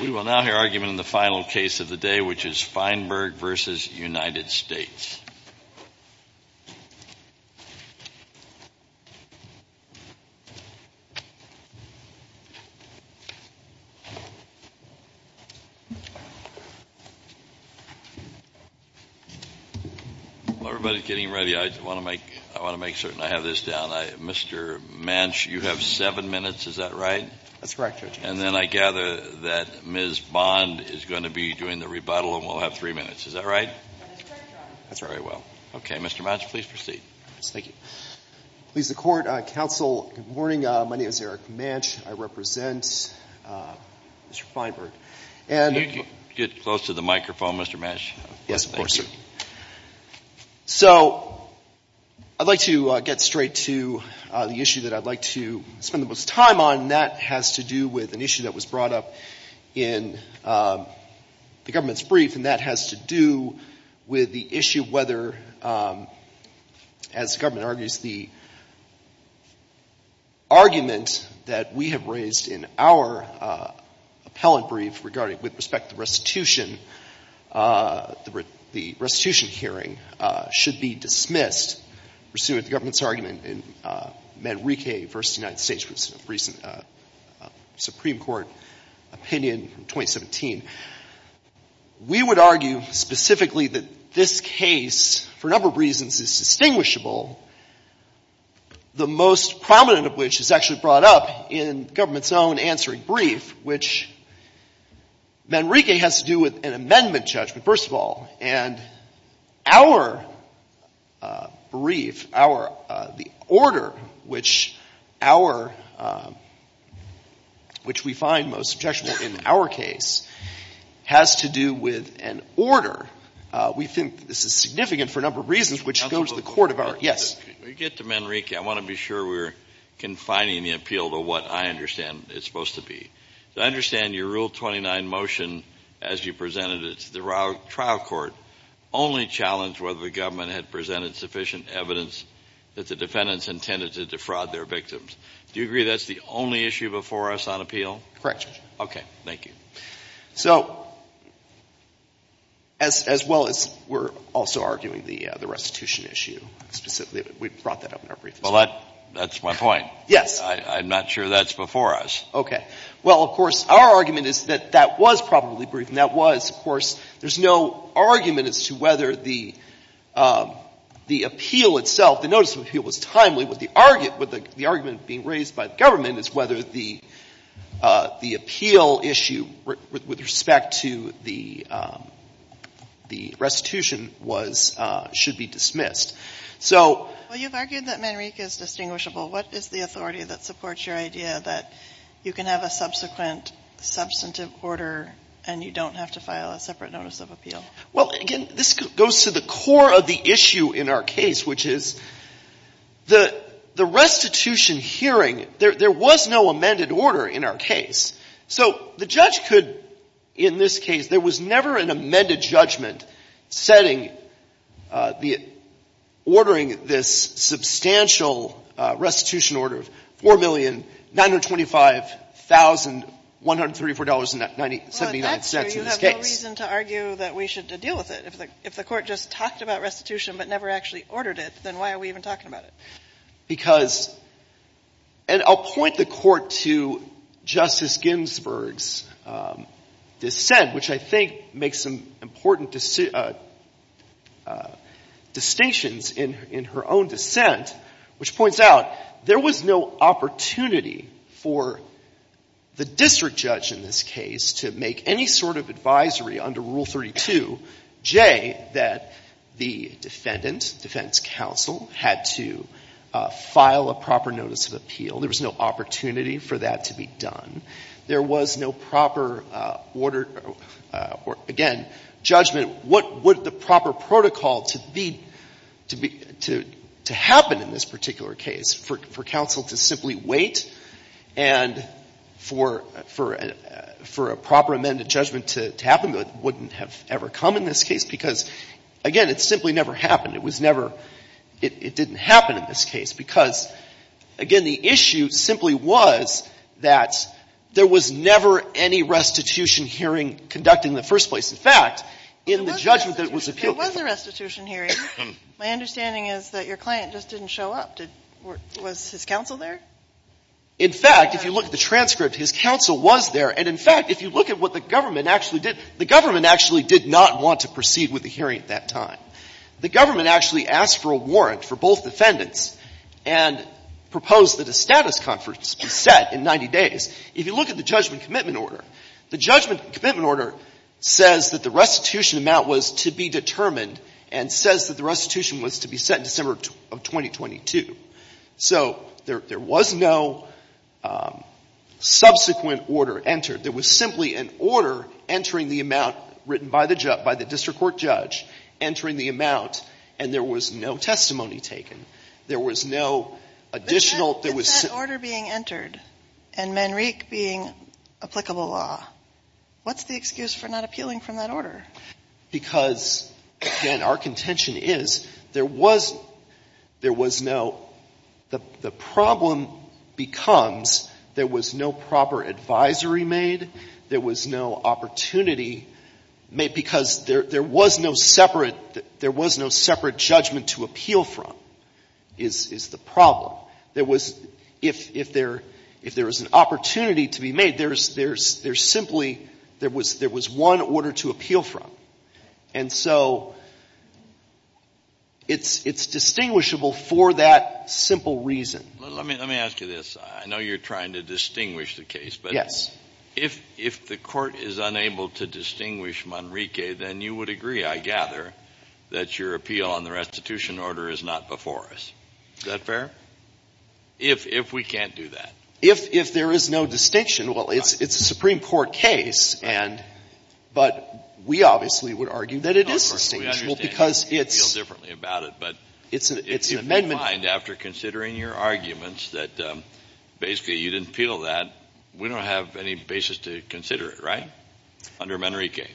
We will now hear argument in the final case of the day, which is Feinberg v. United States. While everybody's getting ready, I want to make certain I have this down. Mr. Manch, you have seven minutes, is that right? Eric Manch That's correct, Judge. Judge Prado And then I gather that Ms. Bond is going to be doing the rebuttal, and we'll have three minutes, is that right? Eric Manch That's correct, Judge. Judge Prado That's very well. Okay, Mr. Manch, please proceed. Eric Manch Yes, thank you. Please, the Court, Counsel, good morning. My name is Eric Manch. I represent Mr. Feinberg, and Judge Prado Can you get close to the microphone, Mr. Manch? Eric Manch Yes, of course, sir. So, I'd like to get straight to the issue that I'd like to spend the most time on, and that has to do with an issue that was brought up in the government's brief, and that has to do with the issue of whether, as the government argues, the argument that we have raised in our appellant brief regarding, with respect to the restitution, the restitution hearing should be dismissed pursuant to the government's argument in Manrique v. United States Supreme Court opinion in 2017. We would argue specifically that this case, for a number of reasons, is distinguishable, the most prominent of which is actually brought up in the government's own answering brief, which Manrique has to do with an amendment judgment, first of all. And our brief, our — the order which our — which we find most objectionable in our case has to do with an order. We think this is significant for a number of reasons, which goes to the court of our — yes. When we get to Manrique, I want to be sure we're confining the appeal to what I understand it's supposed to be. I understand your Rule 29 motion, as you presented it to the trial court, only challenged whether the government had presented sufficient evidence that the defendants intended to defraud their victims. Do you agree that's the only issue before us on appeal? Correct, Judge. Okay. Thank you. So, as well as we're also arguing the restitution issue specifically, we brought that up in our brief as well. Well, that's my point. Yes. I'm not sure that's before us. Okay. Well, of course, our argument is that that was probably brief, and that was, of course, there's no argument as to whether the appeal itself, the notice of appeal was timely, but the argument being raised by the government is whether the appeal issue with respect to the restitution was — should be dismissed. So — Well, you've argued that Manrique is distinguishable. What is the authority that supports your idea that you can have a subsequent substantive order and you don't have to file a separate notice of appeal? Well, again, this goes to the core of the issue in our case, which is the restitution hearing, there was no amended order in our case. So the judge could, in this case, there was never an amended judgment setting the — ordering this substantial restitution order of $4,925,134.79 in this case. Well, that's true. You have no reason to argue that we should deal with it. If the Court just talked about restitution but never actually ordered it, then why are we even talking about it? Because — and I'll point the Court to Justice Ginsburg's dissent, which I think makes some important distinctions in her own dissent, which points out there was no opportunity for the district judge in this case to make any sort of advisory under Rule 32J that the defendant, defense counsel, had to file a proper notice of appeal. There was no opportunity for that to be done. There was no proper order — again, judgment, what would the proper protocol to be — to happen in this particular case for counsel to simply wait and for a proper amended judgment to happen that wouldn't have ever come in this case? Because, again, it simply never happened. It was never — it didn't happen in this case because, again, the issue simply was that there was never any restitution hearing conducting in the first place. In fact, in the judgment that was appealed — There was a restitution hearing. My understanding is that your client just didn't show up. Did — was his counsel there? In fact, if you look at the transcript, his counsel was there. And, in fact, if you look at what the government actually did, the government actually did not want to proceed with the hearing at that time. The government actually asked for a warrant for both defendants and proposed that a status conference be set in 90 days. If you look at the judgment commitment order, the judgment commitment order says that the restitution amount was to be determined and says that the restitution was to be set in December of 2022. So there was no subsequent order entered. There was simply an order entering the amount written by the district court judge entering the amount, and there was no testimony taken. There was no additional — But what about that order being entered and Manrique being applicable law? What's the excuse for not appealing from that order? Because, again, our contention is there was — there was no — the problem becomes there was no proper advisory made. There was no opportunity made because there was no separate — there was no separate judgment to appeal from, is the problem. There was — if there — if there was an opportunity to be made, there's simply there was one order to appeal from. And so it's distinguishable for that simple reason. Let me ask you this. I know you're trying to distinguish the case. Yes. But if the court is unable to distinguish Manrique, then you would agree, I gather, that your appeal on the restitution order is not before us. Is that fair? If we can't do that. If there is no distinction, well, it's a Supreme Court case, and — but we obviously would argue that it is distinguishable because it's — We feel differently about it. But if you find, after considering your arguments, that basically you didn't appeal that, we don't have any basis to consider it, right, under Manrique?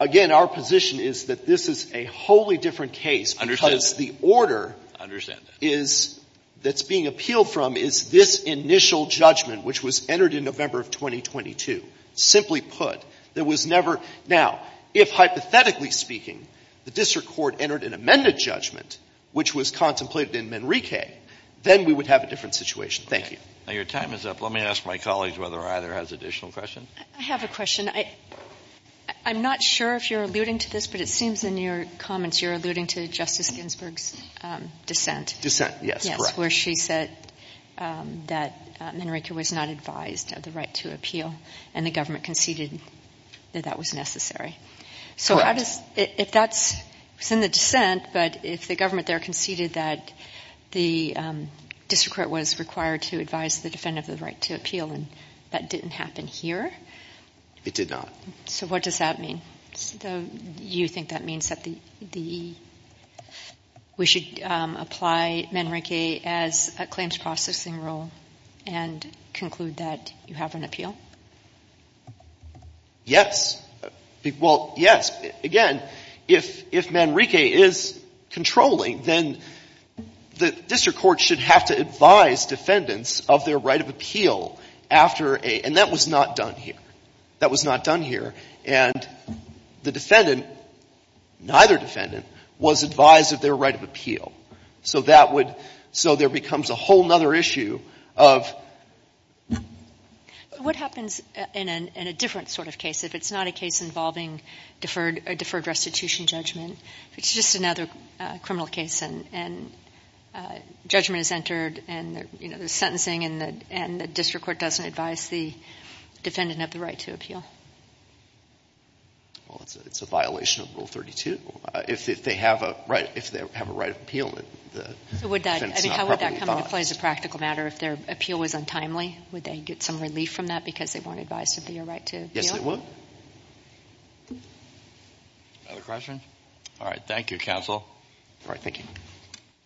Again, our position is that this is a wholly different case because the order — I understand that. — is — that's being appealed from is this initial judgment, which was entered in November of 2022. Simply put, there was never — now, if, hypothetically speaking, the district court entered an amended judgment, which was contemplated in Manrique, then we would have a different situation. Thank you. Now, your time is up. Let me ask my colleagues whether either has additional questions. I have a question. I'm not sure if you're alluding to this, but it seems in your comments you're alluding to Justice Ginsburg's dissent. Dissent, yes, correct. Yes, where she said that Manrique was not advised of the right to appeal, and the government conceded that that was necessary. Correct. So how does — if that's — it's in the dissent, but if the government there conceded that the district court was required to advise the defendant of the right to appeal, and that didn't happen here? It did not. So what does that mean? So you think that means that the — we should apply Manrique as a claims processing rule and conclude that you have an appeal? Yes. Well, yes. Again, if Manrique is controlling, then the district court should have to advise defendants of their right of appeal after a — and that was not done here. That was not done here. And the defendant, neither defendant, was advised of their right of appeal. So that would — so there becomes a whole other issue of — What happens in a different sort of case, if it's not a case involving deferred restitution judgment, if it's just another criminal case and judgment is entered and, you know, there's sentencing and the district court doesn't advise the defendant of the right to appeal? Well, it's a violation of Rule 32. If they have a right — if they have a right of appeal, the defendant is not properly advised. How would that come into play as a practical matter if their appeal was untimely? Would they get some relief from that because they weren't advised of their right to appeal? Yes, they would. Other questions? All right. Thank you, counsel. All right. Thank you.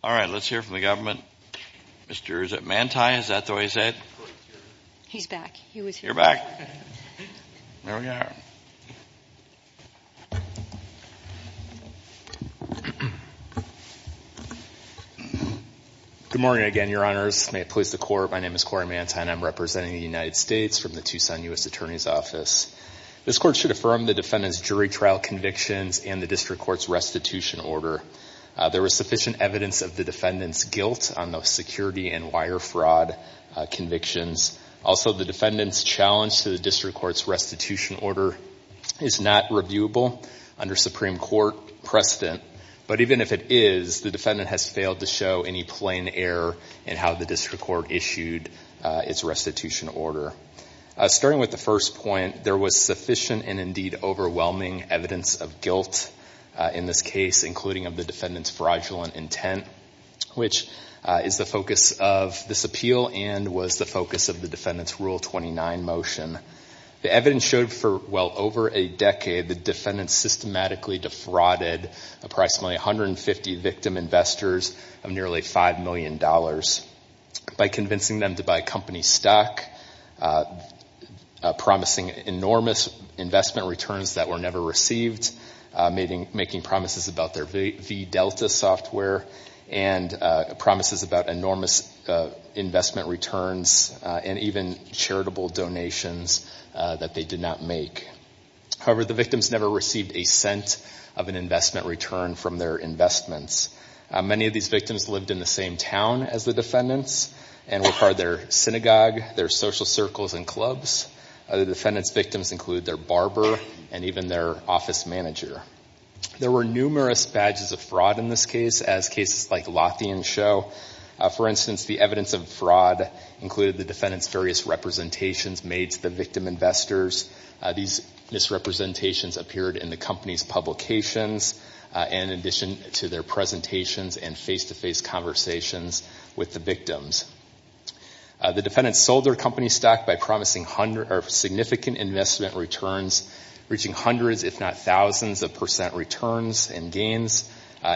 All right. Let's hear from the government. Mr. — is it Manti? Is that the way you say it? He's back. He was here. You're back. There we are. Good morning again, Your Honors. May it please the Court, my name is Corey Manti and I'm representing the United States from the Tucson U.S. Attorney's Office. This Court should affirm the defendant's jury trial convictions and the district court's restitution order. There was sufficient evidence of the defendant's guilt on those security and wire fraud convictions. Also, the defendant's challenge to the district court's restitution order is not reviewable under Supreme Court precedent. But even if it is, the defendant has failed to show any plain error in how the district court issued its restitution order. Starting with the first point, there was sufficient and indeed overwhelming evidence of guilt in this case, including of the defendant's fraudulent intent, which is the focus of this defendant's Rule 29 motion. The evidence showed for well over a decade the defendant systematically defrauded approximately 150 victim investors of nearly $5 million by convincing them to buy company stock, promising enormous investment returns that were never received, making promises about their V-Delta software, and promises about enormous investment returns and even charitable donations that they did not make. However, the victims never received a cent of an investment return from their investments. Many of these victims lived in the same town as the defendants and were part of their synagogue, their social circles, and clubs. The defendant's victims include their barber and even their office manager. There were numerous badges of fraud in this case, as cases like Lothian show. For instance, the evidence of fraud included the defendant's various representations made to the victim investors. These misrepresentations appeared in the company's publications, in addition to their presentations and face-to-face conversations with the victims. The defendant sold their company stock by promising significant investment returns, reaching hundreds if not thousands of percent returns and gains.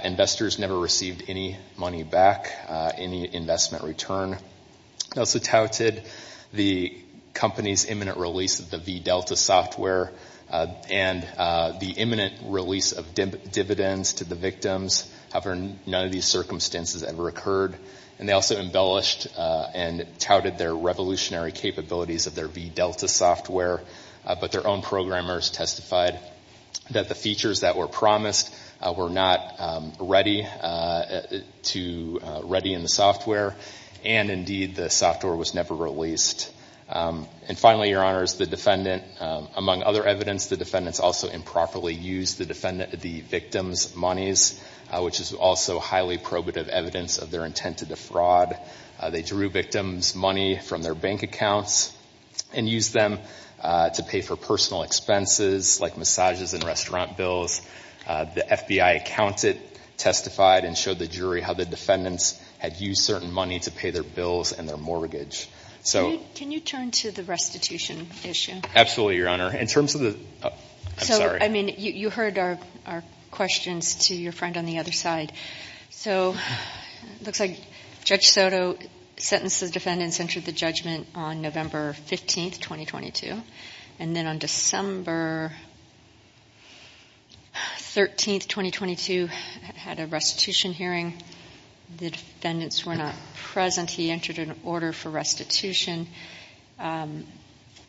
Investors never received any money back, any investment return. They also touted the company's imminent release of the V-Delta software and the imminent release of dividends to the victims. However, none of these circumstances ever occurred. And they also embellished and touted their revolutionary capabilities of their V-Delta software. But their own programmers testified that the features that were promised were not ready in the software. And indeed, the software was never released. And finally, Your Honors, the defendant, among other evidence, the defendants also improperly used the victim's monies, which is also highly probative evidence of their intent to defraud. They drew victims' money from their bank accounts and used them to pay for personal expenses like massages and restaurant bills. The FBI accountant testified and showed the jury how the defendants had used certain money to pay their bills and their mortgage. So... Can you turn to the restitution issue? Absolutely, Your Honor. In terms of the... I'm sorry. So, I mean, you heard our questions to your friend on the other side. So, it looks like Judge Soto sentenced the defendants, entered the judgment on November 15, 2022. And then on December 13, 2022, had a restitution hearing. The defendants were not present. He entered an order for restitution.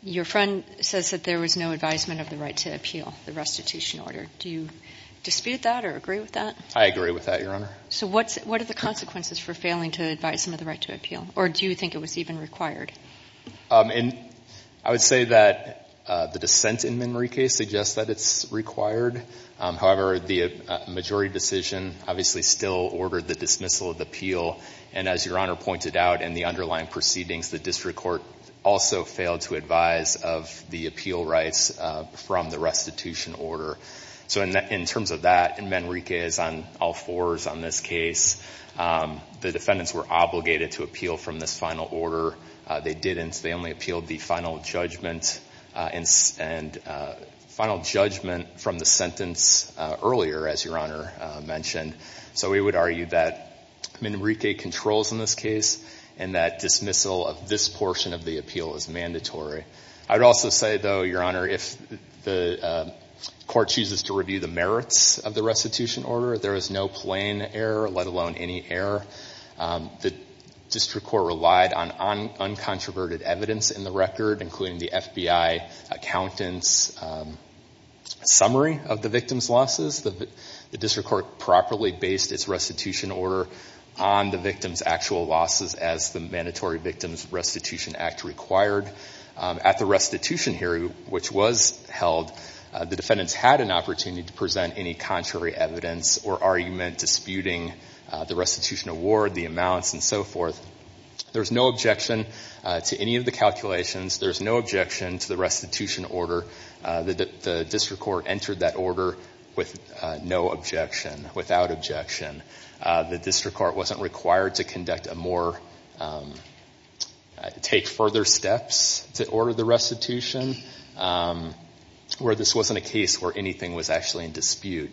Your friend says that there was no advisement of the right to appeal the restitution order. Do you dispute that or agree with that? I agree with that, Your Honor. So, what are the consequences for failing to advise them of the right to appeal? Or do you think it was even required? I would say that the dissent in Manrique suggests that it's required. However, the majority decision obviously still ordered the dismissal of the appeal. And as Your Honor pointed out, in the underlying proceedings, the district court also failed to advise of the appeal rights from the restitution order. So, in terms of that, in Manrique, as on all fours on this case, the defendants were obligated to appeal from this final order. They didn't. They only appealed the final judgment from the sentence earlier, as Your Honor mentioned. So, we would argue that Manrique controls in this case, and that dismissal of this portion of the appeal is mandatory. I would also say, though, Your Honor, if the court chooses to review the merits of the restitution order, there is no plain error, let alone any error. The district court relied on uncontroverted evidence in the record, including the FBI accountant's summary of the victim's losses. The district court properly based its restitution order on the victim's actual losses as the Mandatory Victims Restitution Act required. At the restitution hearing, which was held, the defendants had an opportunity to present any contrary evidence or argument disputing the restitution award, the amounts, and so forth. There's no objection to any of the calculations. There's no objection to the restitution order. The district court entered that order with no objection, without objection. The district court wasn't required to conduct a more, take further steps to order the restitution, where this wasn't a case where anything was actually in dispute.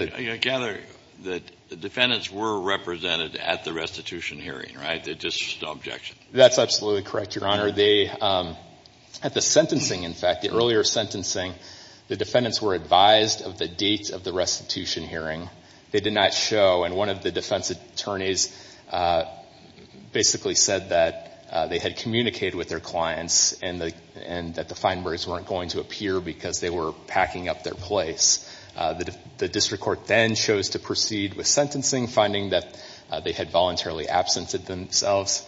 I gather that the defendants were represented at the restitution hearing, right? There's just no objection. That's absolutely correct, Your Honor. At the sentencing, in fact, the earlier sentencing, the defendants were advised of the date of the restitution hearing. They did not show, and one of the defense attorneys basically said that they had communicated with their clients and that the Feinbergs weren't going to appear because they were packing up their place. The district court then chose to proceed with sentencing, finding that they had voluntarily absented themselves.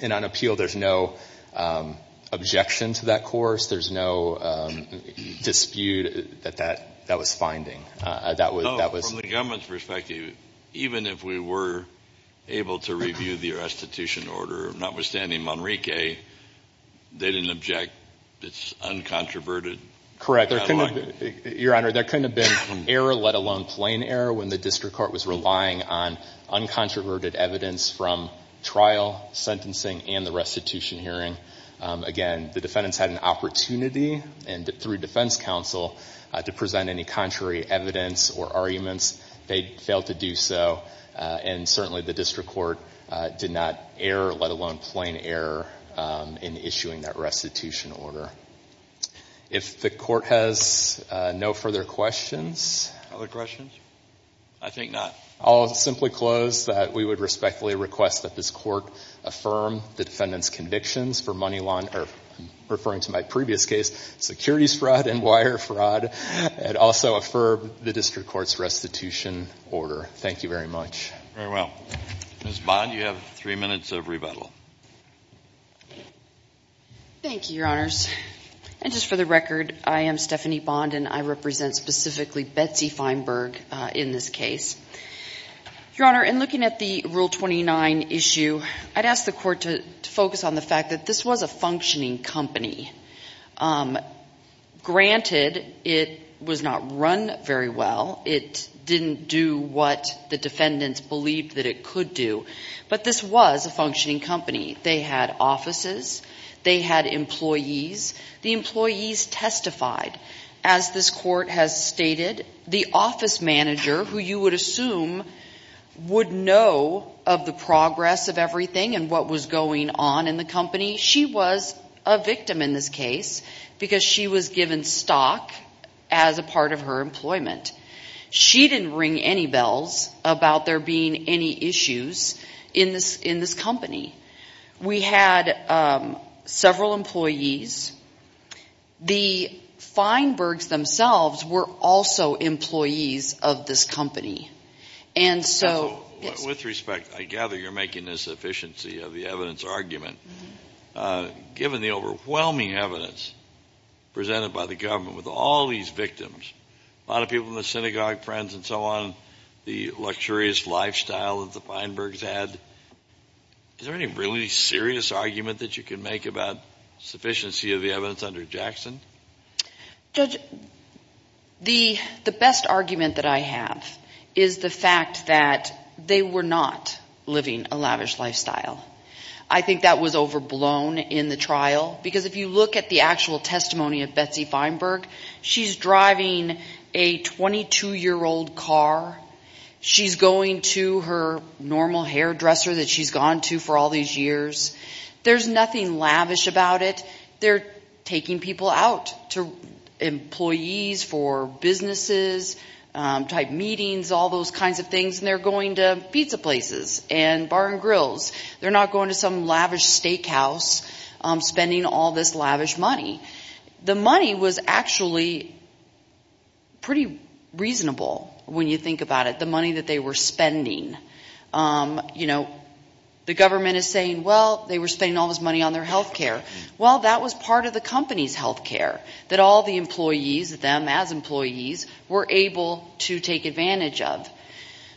And on appeal, there's no objection to that course. There's no dispute that that was finding. From the government's perspective, even if we were able to review the restitution order, notwithstanding Monrique, they didn't object. It's uncontroverted. Correct. Your Honor, there couldn't have been error, let alone plain error, when the district court was relying on uncontroverted evidence from trial, sentencing, and the restitution hearing. Again, the defendants had an opportunity, and through defense counsel, to present any contrary evidence or arguments. They failed to do so, and certainly the district court did not err, let alone plain error, in issuing that restitution order. If the court has no further questions. Other questions? I think not. I'll simply close that we would respectfully request that this court affirm the defendant's convictions for money laundering, referring to my previous case, securities fraud and wire fraud, and also affirm the district court's restitution order. Thank you very much. Very well. Ms. Bond, you have three minutes of rebuttal. Thank you, Your Honors. And just for the record, I am Stephanie Bond, and I represent specifically Betsy Feinberg in this case. Your Honor, in looking at the Rule 29 issue, I'd ask the court to focus on the fact that this was a functioning company. Granted, it was not run very well. It didn't do what the defendants believed that it could do. But this was a functioning company. They had offices. They had employees. The employees testified. As this court has stated, the office manager, who you would assume would know of the progress of everything and what was going on in the company, she was a victim in this case because she was given stock as a part of her employment. She didn't ring any bells about there being any issues in this company. We had several employees. The Feinbergs themselves were also employees of this company. With respect, I gather you're making a sufficiency of the evidence argument. Given the overwhelming evidence presented by the government with all these victims, a lot of people in the synagogue, friends and so on, the luxurious lifestyle that the Feinbergs had, is there any really serious argument that you can make about sufficiency of the evidence under Jackson? Judge, the best argument that I have is the fact that they were not living a lavish lifestyle. I think that was overblown in the trial because if you look at the actual testimony of Betsy Feinberg, she's driving a 22-year-old car. She's going to her normal hairdresser that she's gone to for all these years. There's nothing lavish about it. They're taking people out to employees for businesses, type meetings, all those kinds of things, and they're going to pizza places and bar and grills. They're not going to some lavish steakhouse spending all this lavish money. The money was actually pretty reasonable when you think about it, the money that they were spending. The government is saying, well, they were spending all this money on their health care. Well, that was part of the company's health care that all the employees, them as employees, were able to take advantage of.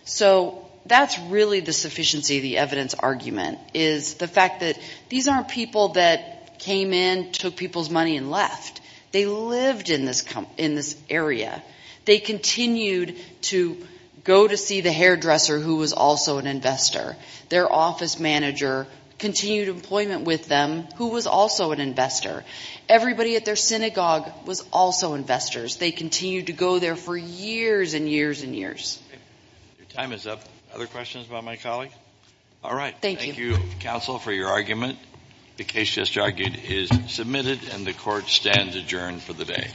So that's really the sufficiency of the evidence argument is the fact that these aren't people that came in, took people's money, and left. They lived in this area. They continued to go to see the hairdresser, who was also an investor. Their office manager continued employment with them, who was also an investor. Everybody at their synagogue was also investors. They continued to go there for years and years and years. Your time is up. Other questions about my colleague? All right. Thank you. Thank you, counsel, for your argument. The case just argued is submitted, and the court stands adjourned for the day.